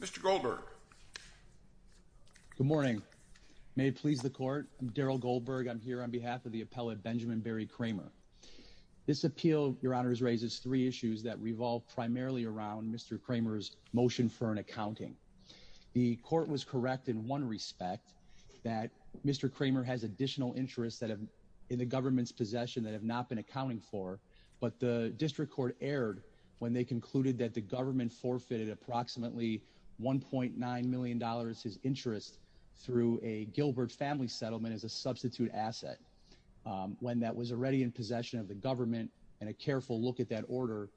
Mr. Goldberg. Good morning. May it please the court. I'm Daryl Goldberg. I'm here on behalf of the appellate Benjamin Barry Kramer. This appeal, your honors, raises three issues that revolve primarily around Mr. Kramer's motion for an accounting. The court was correct in one respect, that Mr. Kramer has additional interests that have in the government's possession that have not been accounting for, but the district court erred when they concluded that the government forfeited approximately 1.9 million dollars his interest through a Gilbert family settlement as a substitute asset. When that was already in possession of the government, and a careful look at that order,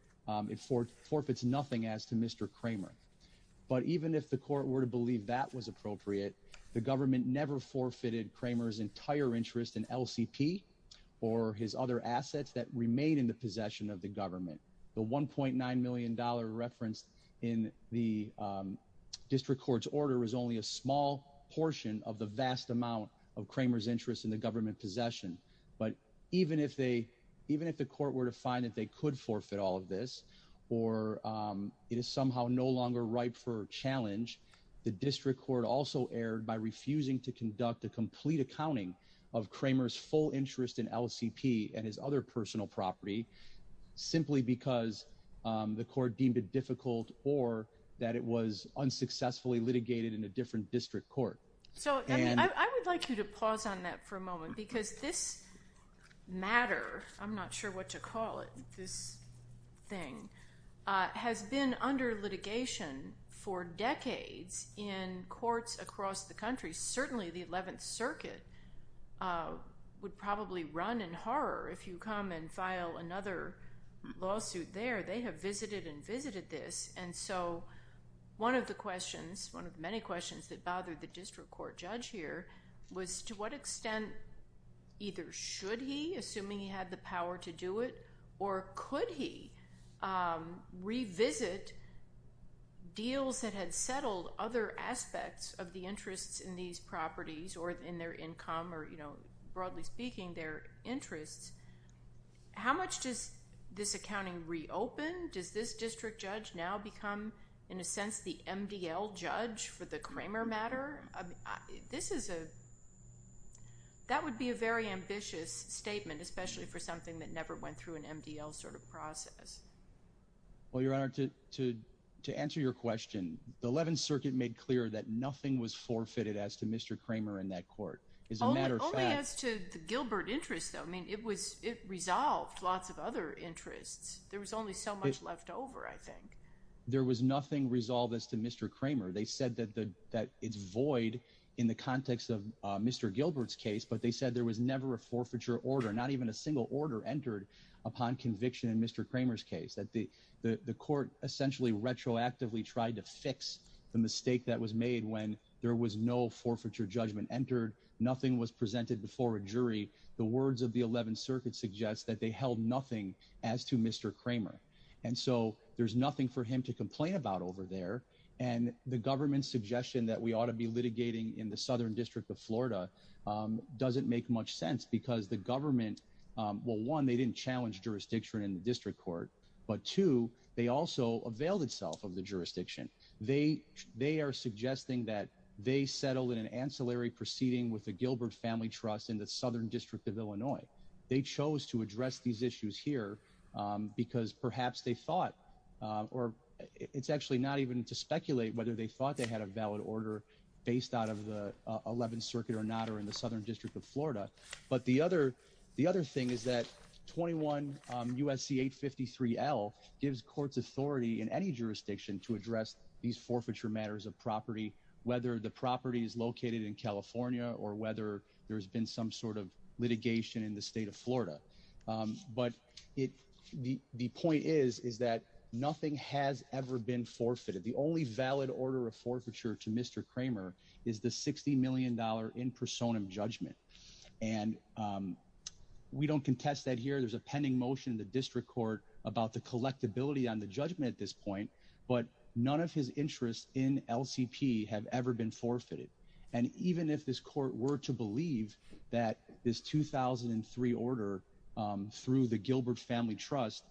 it for forfeits nothing as to Mr. Kramer. But even if the court were to believe that was appropriate, the government never forfeited Kramer's entire interest in LCP or his other assets that remain in the possession of the government. The 1.9 million dollar reference in the district court's order is only a small portion of the vast amount of Kramer's interest in the government possession. But even if they, even if the court were to find that they could forfeit all of this, or it is somehow no longer ripe for challenge, the district court also erred by refusing to conduct a complete accounting of Kramer's full interest in LCP and his because the court deemed it difficult or that it was unsuccessfully litigated in a different district court. So I would like you to pause on that for a moment because this matter, I'm not sure what to call it, this thing, has been under litigation for decades in courts across the country. Certainly the 11th Circuit would probably run in horror if you come and file another lawsuit there. They have visited and visited this and so one of the questions, one of the many questions that bothered the district court judge here was to what extent either should he, assuming he had the power to do it, or could he revisit deals that had settled other aspects of the interests in these properties or in their income or, you know, broadly speaking their interests, how much does this accounting reopen? Does this district judge now become, in a sense, the MDL judge for the Kramer matter? This is a, that would be a very ambitious statement especially for something that never went through an MDL sort of process. Well, Your Honor, to answer your question, the 11th Circuit made clear that nothing was forfeited as to Mr. Kramer in that court. Only as to the Gilbert interest, though. I mean, it was, it resolved lots of other interests. There was only so much left over, I think. There was nothing resolved as to Mr. Kramer. They said that the, that it's void in the context of Mr. Gilbert's case, but they said there was never a forfeiture order, not even a single order entered upon conviction in Mr. Kramer's case, that the, the court essentially retroactively tried to fix the mistake that was made when there was no forfeiture judgment entered, nothing was presented before a jury. The words of the 11th Circuit suggests that they held nothing as to Mr. Kramer, and so there's nothing for him to complain about over there, and the government's suggestion that we ought to be litigating in the Southern District of Florida doesn't make much sense because the government, well, one, they didn't challenge jurisdiction in the district court, but two, they also availed of the jurisdiction. They, they are suggesting that they settled in an ancillary proceeding with the Gilbert Family Trust in the Southern District of Illinois. They chose to address these issues here because perhaps they thought, or it's actually not even to speculate whether they thought they had a valid order based out of the 11th Circuit or not, or in the Southern District of Florida, but the other, the other thing is that 21 USC 853 L gives courts authority in any jurisdiction to address these forfeiture matters of property, whether the property is located in California or whether there has been some sort of litigation in the state of Florida, but it, the, the point is, is that nothing has ever been forfeited. The only valid order of forfeiture to Mr. Kramer is the $60 million in personam judgment, and, um, we don't contest that here. There's a pending motion in the district court about the collectability on the judgment at this point, but none of his interests in LCP have ever been forfeited. And even if this court were to believe that this 2003 order, um, through the Gilbert Family Trust,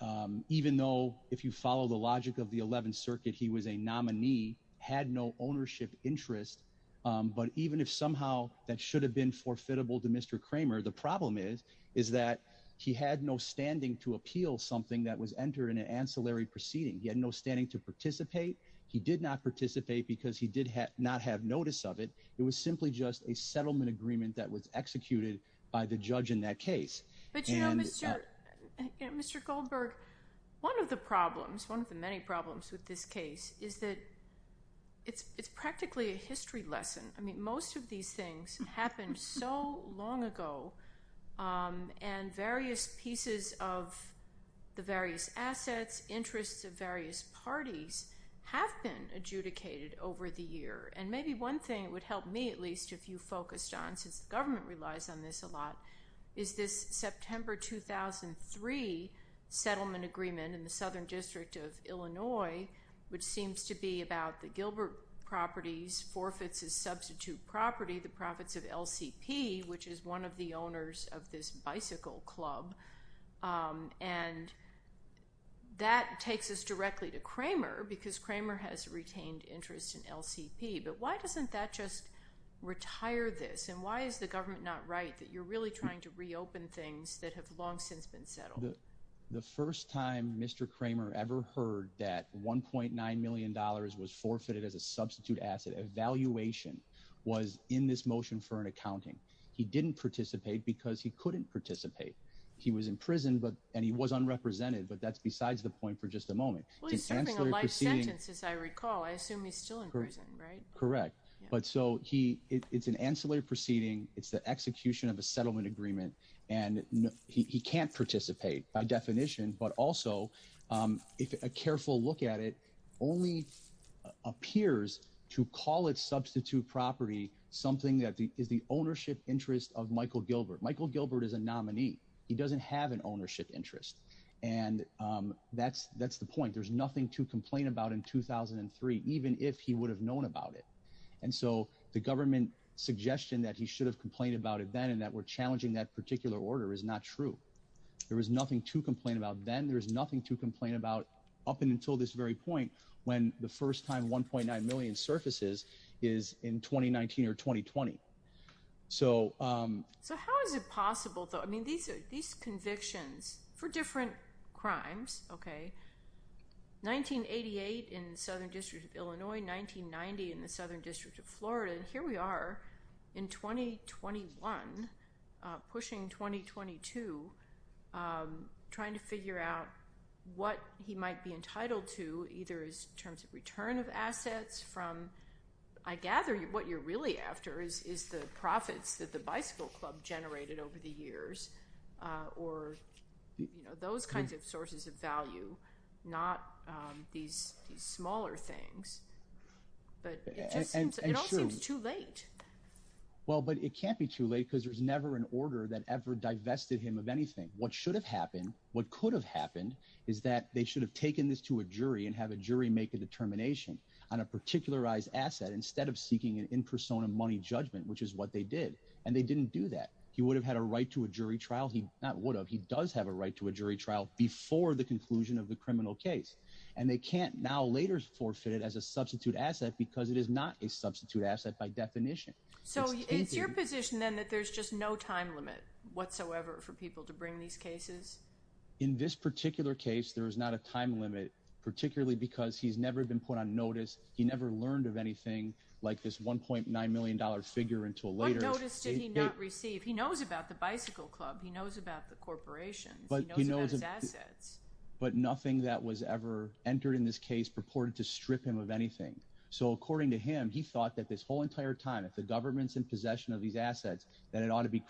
um, even though if you follow the logic of the 11th Circuit, he was a nominee, had no ownership interest. Um, but even if somehow that should have been forfeitable to Mr Kramer, the problem is, is that he had no standing to appeal something that was entered in an ancillary proceeding. He had no standing to participate. He did not participate because he did not have notice of it. It was simply just a settlement agreement that was executed by the judge in that case. But, you know, Mr, Mr Goldberg, one of the problems, one of the many problems with this case is that it's, it's practically a history lesson. I mean, most of these things happened so long ago. Um, and various pieces of the various assets, interests of various parties have been adjudicated over the year. And maybe one thing it would help me, at least if you focused on, since the government relies on this a lot, is this September 2003 settlement agreement in the Southern District of Illinois, which seems to be about the Gilbert Properties forfeits as the owners of this bicycle club. Um, and that takes us directly to Kramer because Kramer has retained interest in LCP. But why doesn't that just retire this? And why is the government not right that you're really trying to reopen things that have long since been settled? The first time Mr Kramer ever heard that $1.9 million was forfeited as a substitute asset evaluation was in this motion for an accounting. He didn't participate because he couldn't participate. He was in prison, but and he was unrepresented. But that's besides the point for just a moment. Well, he's serving a life sentence, as I recall. I assume he's still in prison, right? Correct. But so he it's an ancillary proceeding. It's the execution of a settlement agreement, and he can't participate by definition. But also, um, if a careful look at it, only appears to call its substitute property, something that is the ownership interest of Michael Gilbert. Michael Gilbert is a nominee. He doesn't have an ownership interest, and, um, that's that's the point. There's nothing to complain about in 2000 and three, even if he would have known about it. And so the government suggestion that he should have complained about it then and that we're challenging that particular order is not true. There is nothing to Then there's nothing to complain about up and until this very point when the first time 1.9 million surfaces is in 2019 or 2020. So, um, so how is it possible, though? I mean, these are these convictions for different crimes. Okay, 1988 in Southern District of Illinois, 1990 in the Southern District of Florida. And here we are in 2021 pushing 2022, um, trying to figure out what he might be entitled to either is terms of return of assets from I gather what you're really after is is the profits that the Bicycle Club generated over the years or, you know, those kinds of sources of value, not these smaller things. But it all seems too late. Well, but it can't be too late because there's never an order that ever divested him of anything. What should have happened? What could have happened is that they should have taken this to a jury and have a jury make a determination on a particularized asset instead of seeking an in persona money judgment, which is what they did. And they didn't do that. He would have had a right to a jury trial. He not would have. He does have a right to a jury trial before the conclusion of the criminal case, and they can't now later forfeited as a substitute asset because it is not a substitute asset by definition. So it's your position, then, that there's just no time limit whatsoever for people to these cases. In this particular case, there is not a time limit, particularly because he's never been put on notice. He never learned of anything like this $1.9 million figure into a later notice. Did he not receive? He knows about the Bicycle Club. He knows about the corporations, but he knows his assets, but nothing that was ever entered in this case purported to strip him of anything. So according to him, he thought that this whole entire time, if the government's in possession of these assets, that it ought to be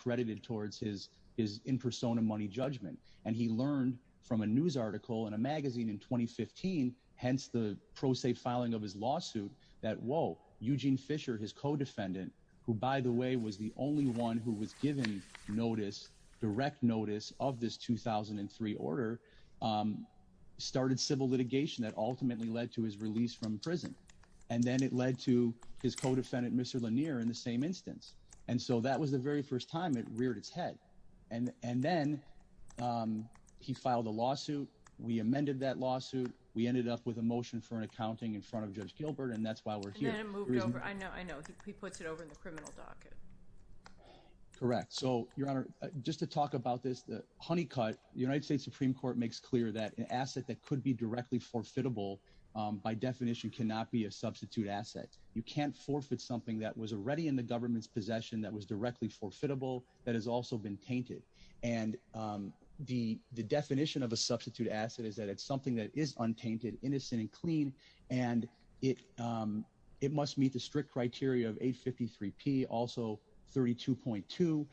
a money judgment. And he learned from a news article in a magazine in 2015, hence the pro se filing of his lawsuit that, Whoa, Eugene Fisher, his co defendant, who, by the way, was the only one who was given notice, direct notice of this 2003 order, um, started civil litigation that ultimately led to his release from prison. And then it led to his co defendant, Mr Lanier, in the same instance. And so that was the very first time it reared its head. And and then, um, he filed a lawsuit. We amended that lawsuit. We ended up with a motion for an accounting in front of Judge Gilbert, and that's why we're here. I know. I know. He puts it over in the criminal docket. Correct. So, Your Honor, just to talk about this, the honey cut the United States Supreme Court makes clear that an asset that could be directly forfeitable by definition cannot be a substitute asset. You can't forfeit something that was already in the government's possession that was also been tainted. And, um, the definition of a substitute asset is that it's something that is untainted, innocent and clean, and it, um, it must meet the strict criteria of 8 53 P. Also, 32.2 to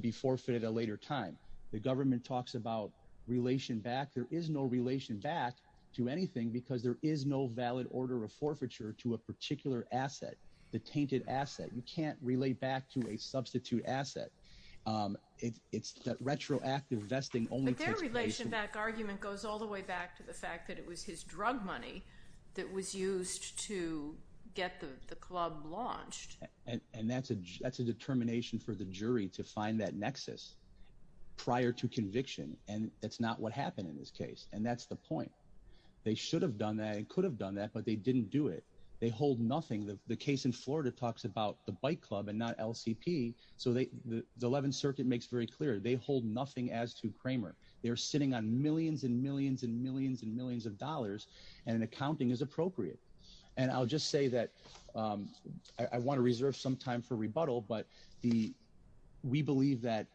be forfeited. A later time, the government talks about relation back. There is no relation back to anything because there is no valid order of forfeiture to a particular asset. The tainted asset. You can't relate back to a substitute asset. Um, it's that retroactive vesting only relation back argument goes all the way back to the fact that it was his drug money that was used to get the club launched. And that's a that's a determination for the jury to find that nexus prior to conviction. And that's not what happened in this case. And that's the point. They should have done that. It could have done that, but they didn't do it. They hold nothing. The case in Florida talks about the bike club and not L. C. P. So the 11th Circuit makes very clear they hold nothing as to Kramer. They're sitting on millions and millions and millions and millions of dollars, and accounting is appropriate. And I'll just say that, um, I want to reserve some time for rebuttal. But the we believe that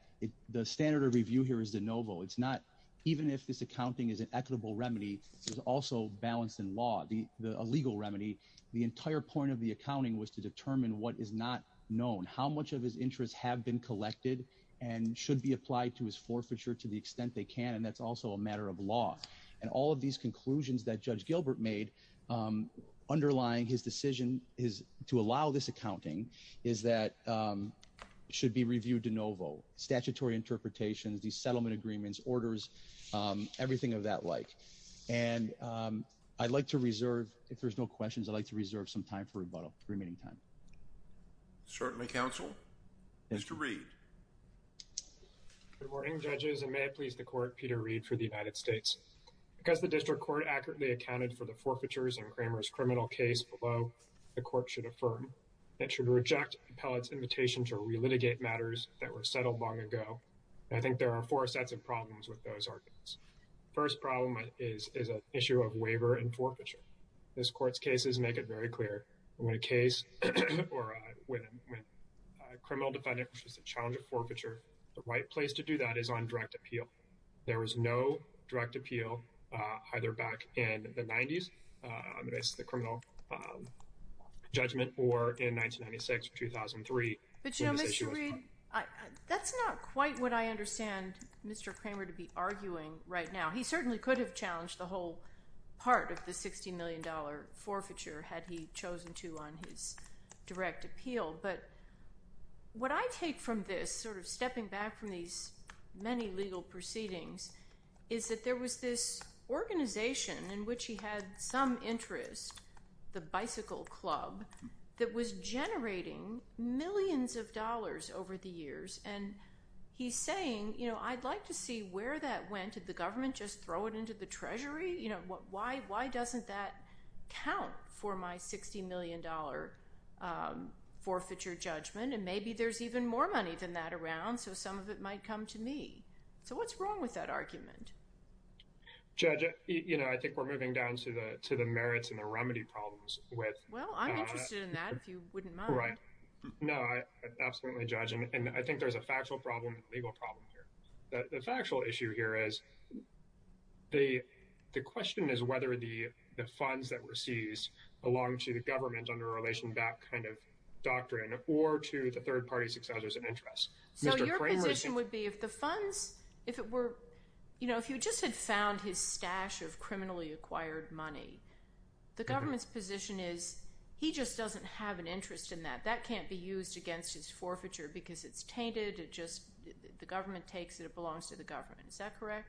the standard of review here is the Novo. It's not even if this accounting is an equitable remedy. It's also balanced in law. The illegal remedy. The entire point of the accounting was to determine what is not known how much of his interests have been collected and should be applied to his forfeiture to the extent they can. And that's also a matter of law. And all of these conclusions that Judge Gilbert made, um, underlying his decision is to allow this accounting is that, um, should be reviewed to Novo statutory interpretations, the settlement agreements, orders, um, I'd like to reserve. If there's no questions, I'd like to reserve some time for rebuttal remaining time. Certainly, Council is to read. Good morning, judges and may it please the court. Peter Reed for the United States. Because the district court accurately accounted for the forfeitures and Kramer's criminal case below, the court should affirm that should reject pellets invitation to relitigate matters that were settled long ago. I think there are four sets of problems with those arguments. First problem is issue of waiver and forfeiture. This court's cases make it very clear when a case or when a criminal defendant is a challenge of forfeiture. The right place to do that is on direct appeal. There was no direct appeal either back in the nineties. I miss the criminal, um, judgment or in 1996 2003. But you know, Mr Reed, that's not quite what I understand Mr Kramer to be arguing right now. He certainly could have challenged the whole part of the $60 million forfeiture had he chosen to on his direct appeal. But what I take from this sort of stepping back from these many legal proceedings is that there was this organization in which he had some interest, the Bicycle Club that was generating millions of dollars over the years. And he's saying, you know, I'd like to see where that went to the government. Just throw it into the Treasury. You know what? Why? Why doesn't that count for my $60 million, um, forfeiture judgment? And maybe there's even more money than that around. So some of it might come to me. So what's wrong with that argument? Judge, you know, I think we're moving down to the to the merits and the remedy problems with well, I'm interested in that if you wouldn't mind. No, I absolutely judge. And I think there's a factual problem, legal problem here. The factual issue here is the question is whether the funds that were seized belong to the government under a relation back kind of doctrine or to the third party successors of interest. So your position would be if the funds, if it were, you know, if you just had found his stash of criminally acquired money, the government's position is he just doesn't have an interest in that. That can't be used against his forfeiture because it's tainted. It just the government takes it. It belongs to the government. Is that correct?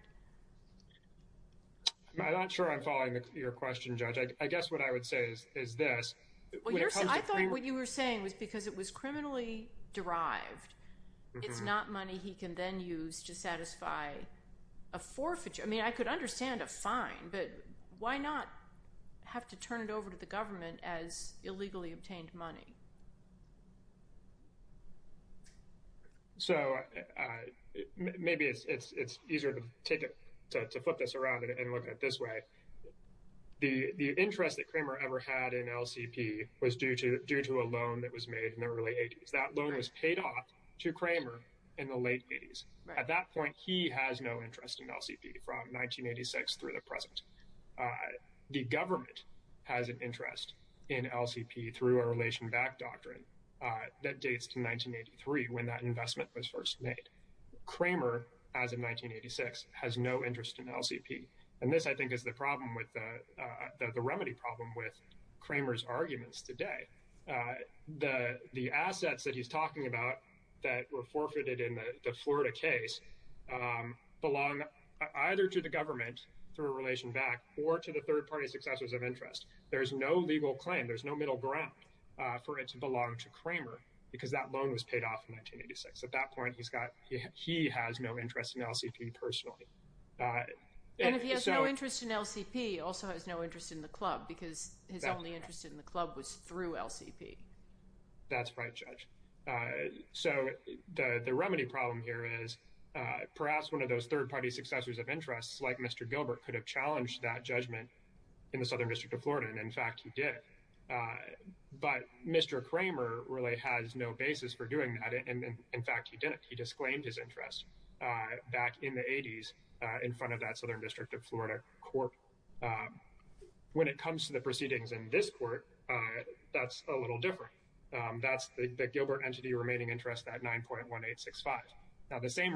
I'm not sure I'm following your question, Judge. I guess what I would say is this. I thought what you were saying was because it was criminally derived. It's not money he can then use to satisfy a forfeiture. I mean, I could understand a fine, but why not have to turn it over to the government as illegally obtained money? So maybe it's easier to take it, to flip this around and look at it this way. The interest that Kramer ever had in LCP was due to a loan that was made in the early 80s. That loan was paid off to Kramer in the late 80s. At that point, he has no interest in LCP from 1986 through the present. The government has an interest in LCP through a relation back doctrine that dates to 1983 when that investment was first made. Kramer, as of 1986, has no interest in LCP. And this, I think, is the problem with the remedy problem with Kramer's arguments today. The assets that he's talking about that were forfeited in the Florida case belong either to the government through a relation back or to the third party successors of interest. There's no legal claim. There's no middle ground for it to belong to Kramer because that loan was paid off in 1986. At that point, he's got, he has no interest in LCP personally. And if he has no interest in LCP, also has no interest in the club because his only interest in the club was through LCP. That's right, Judge. So the remedy problem here is perhaps one of those third party successors of interest, like Mr. Gilbert, could have challenged that in the Southern District of Florida. And, in fact, he did. But Mr. Kramer really has no basis for doing that. And, in fact, he didn't. He disclaimed his interest back in the 80s in front of that Southern District of Florida court. When it comes to the proceedings in this court, that's a little different. That's the Gilbert entity remaining interest, that 9.1865. Now, the same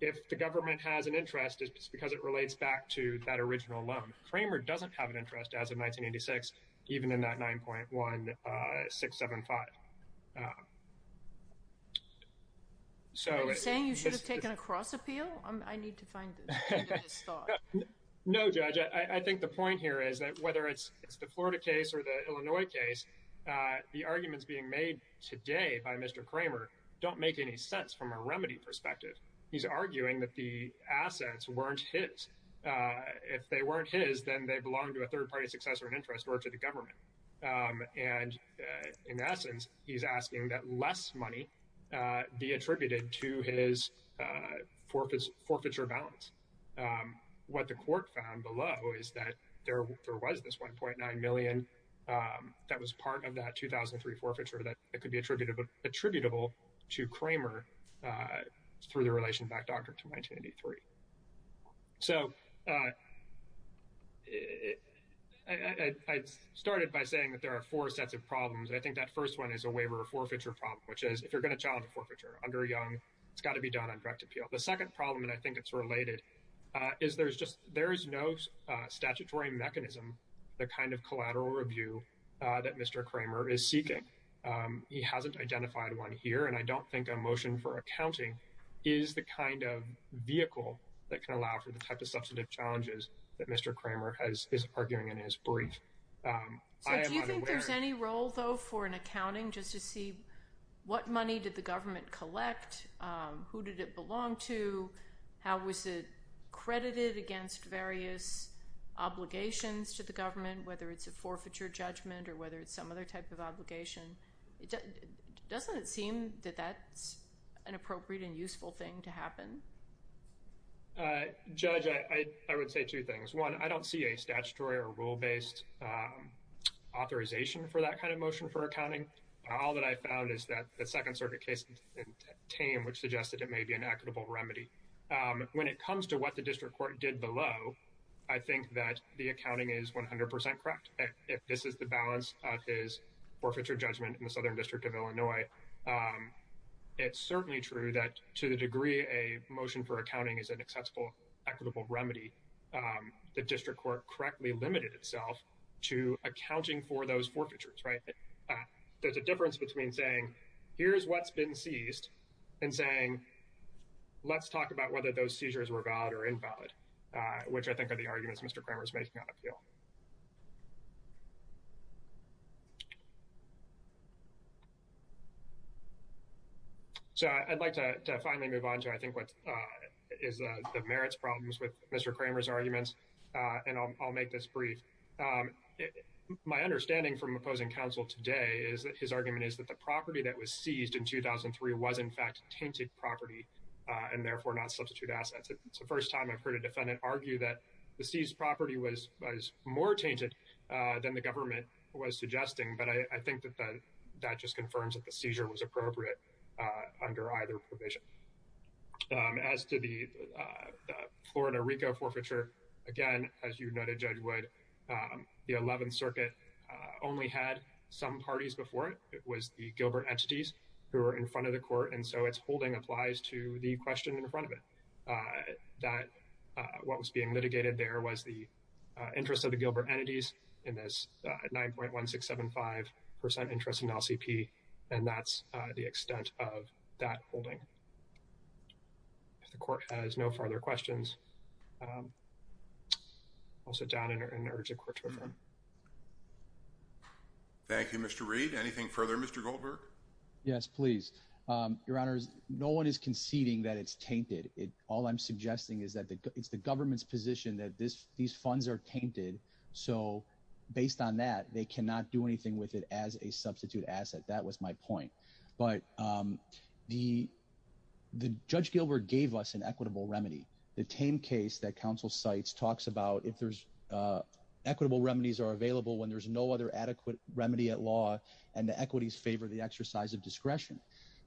if the government has an interest, it's because it relates back to that original loan. Kramer doesn't have an interest as of 1986, even in that 9.1675. So... Are you saying you should have taken a cross appeal? I need to find this thought. No, Judge. I think the point here is that whether it's the Florida case or the Illinois case, the arguments being made today by Mr. Kramer don't make any sense from a remedy perspective. He's arguing that the assets weren't his. If they weren't his, then they belonged to a third-party successor in interest or to the government. And, in essence, he's asking that less money be attributed to his forfeiture balance. What the court found below is that there was this 1.9 million that was part of that 2003 forfeiture that could be attributable to Kramer through the relation back to 1983. So, I started by saying that there are four sets of problems. I think that first one is a waiver or forfeiture problem, which is, if you're going to challenge a forfeiture under Young, it's got to be done on direct appeal. The second problem, and I think it's related, is there's no statutory mechanism, the kind of collateral review that Mr. Kramer is seeking. He hasn't identified one here, and I don't think a motion for accounting is the kind of vehicle that can allow for the type of substantive challenges that Mr. Kramer is arguing in his brief. So, do you think there's any role, though, for an accounting just to see what money did the government collect, who did it belong to, how was it credited against various obligations to the government, whether it's a forfeiture judgment or whether it's some other type of obligation? Doesn't it seem that that's an appropriate and useful thing to happen? Judge, I would say two things. One, I don't see a statutory or rule-based authorization for that kind of motion for accounting. All that I found is that the Second Circuit case in Tame, which suggested it may be an equitable remedy. When it comes to what the district court did below, I think that the accounting is 100% correct. If this is the balance of his forfeiture judgment in the Southern District of Illinois, it's certainly true that to the degree a motion for accounting is an accessible, equitable remedy, the district court correctly limited itself to accounting for those forfeitures, right? There's a difference between saying, here's what's been seized and saying, let's talk about whether those seizures were valid or not. Those are the arguments Mr. Kramer is making on appeal. So I'd like to finally move on to what I think is the merits problems with Mr. Kramer's arguments, and I'll make this brief. My understanding from opposing counsel today is that his argument is that the property that was seized in 2003 was in fact tainted property and therefore not substitute assets. It's the first time I've heard a defendant argue that the seized property was more tainted than the government was suggesting, but I think that that just confirms that the seizure was appropriate under either provision. As to the Florida Rico forfeiture, again, as you noted, Judge Wood, the 11th Circuit only had some parties before it. It was the Gilbert entities who were in front of the court, and so its holding applies to the question in front of it. That what was being litigated there was the interest of the Gilbert entities in this 9.1675 percent interest in LCP, and that's the extent of that holding. If the court has no further questions, I'll sit down and urge the court to affirm. Thank you, Mr. Reed. Anything further, Mr. Goldberg? Yes, please. Your Honor, no one is conceding that it's tainted. All I'm suggesting is that it's the government's position that these funds are tainted, so based on that, they cannot do anything with it as a substitute asset. That was my point, but Judge Gilbert gave us an equitable remedy. The tame case that counsel cites talks about if there's equitable remedies are available when there's no other adequate remedy at law and the equities favor the exercise of discretion.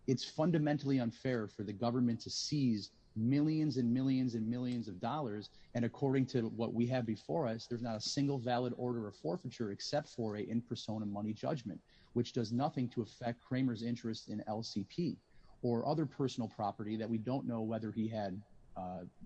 It's fundamentally unfair for the government to seize millions and millions and millions of dollars, and according to what we have before us, there's not a single valid order of forfeiture except for a in persona money judgment, which does nothing to affect Kramer's interest in LCP or other personal property that we don't know whether he had,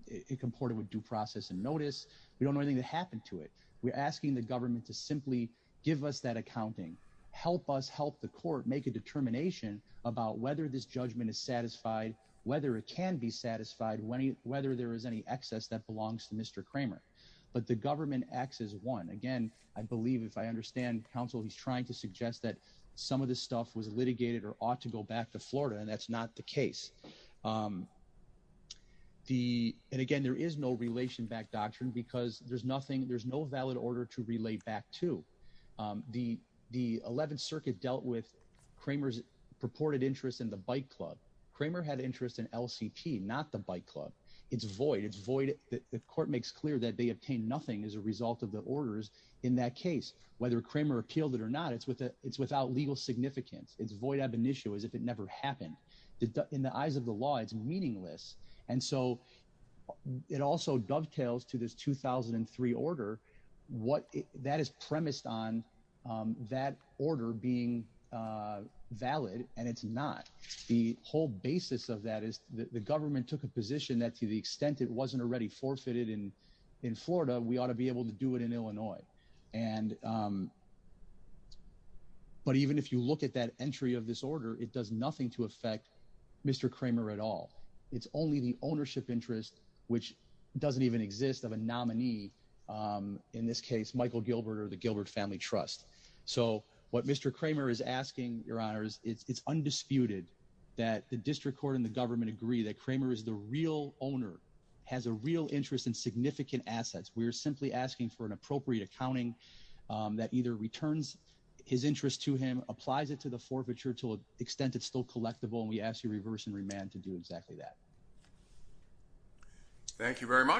it comported with due process and notice. We don't know anything that happened to it. We're asking the government to simply give us that accounting, help us help the court make a determination about whether this judgment is satisfied, whether it can be satisfied, whether there is any excess that belongs to Mr. Kramer, but the government acts as one. Again, I believe if I understand counsel, he's trying to suggest that some of this stuff was litigated or ought to go back to Florida, and that's not the case. And again, there is no relation back doctrine because there's nothing, there's no valid order to relate back to. The 11th circuit dealt with Kramer's purported interest in the bike club. Kramer had interest in LCP, not the bike club. It's void, it's void that the court makes clear that they obtained nothing as a result of the orders in that case, whether Kramer appealed it or not, it's without legal significance. It's void ab initio as if it never happened. In the eyes of the law, it's meaningless. And so it also dovetails to this 2003 order, that is premised on that order being valid, and it's not. The whole basis of that is the government took a position that to the extent it wasn't already forfeited in Florida, we ought to be able to do it in Illinois. But even if you look at that entry of this order, it does nothing to Mr. Kramer at all. It's only the ownership interest, which doesn't even exist of a nominee, in this case, Michael Gilbert or the Gilbert Family Trust. So what Mr. Kramer is asking, Your Honors, it's undisputed that the district court and the government agree that Kramer is the real owner, has a real interest in significant assets. We're simply asking for an appropriate accounting that either returns his interest to him, applies it to the forfeiture to an extent it's still collectible, and we ask you reverse and remand to do exactly that. Thank you very much.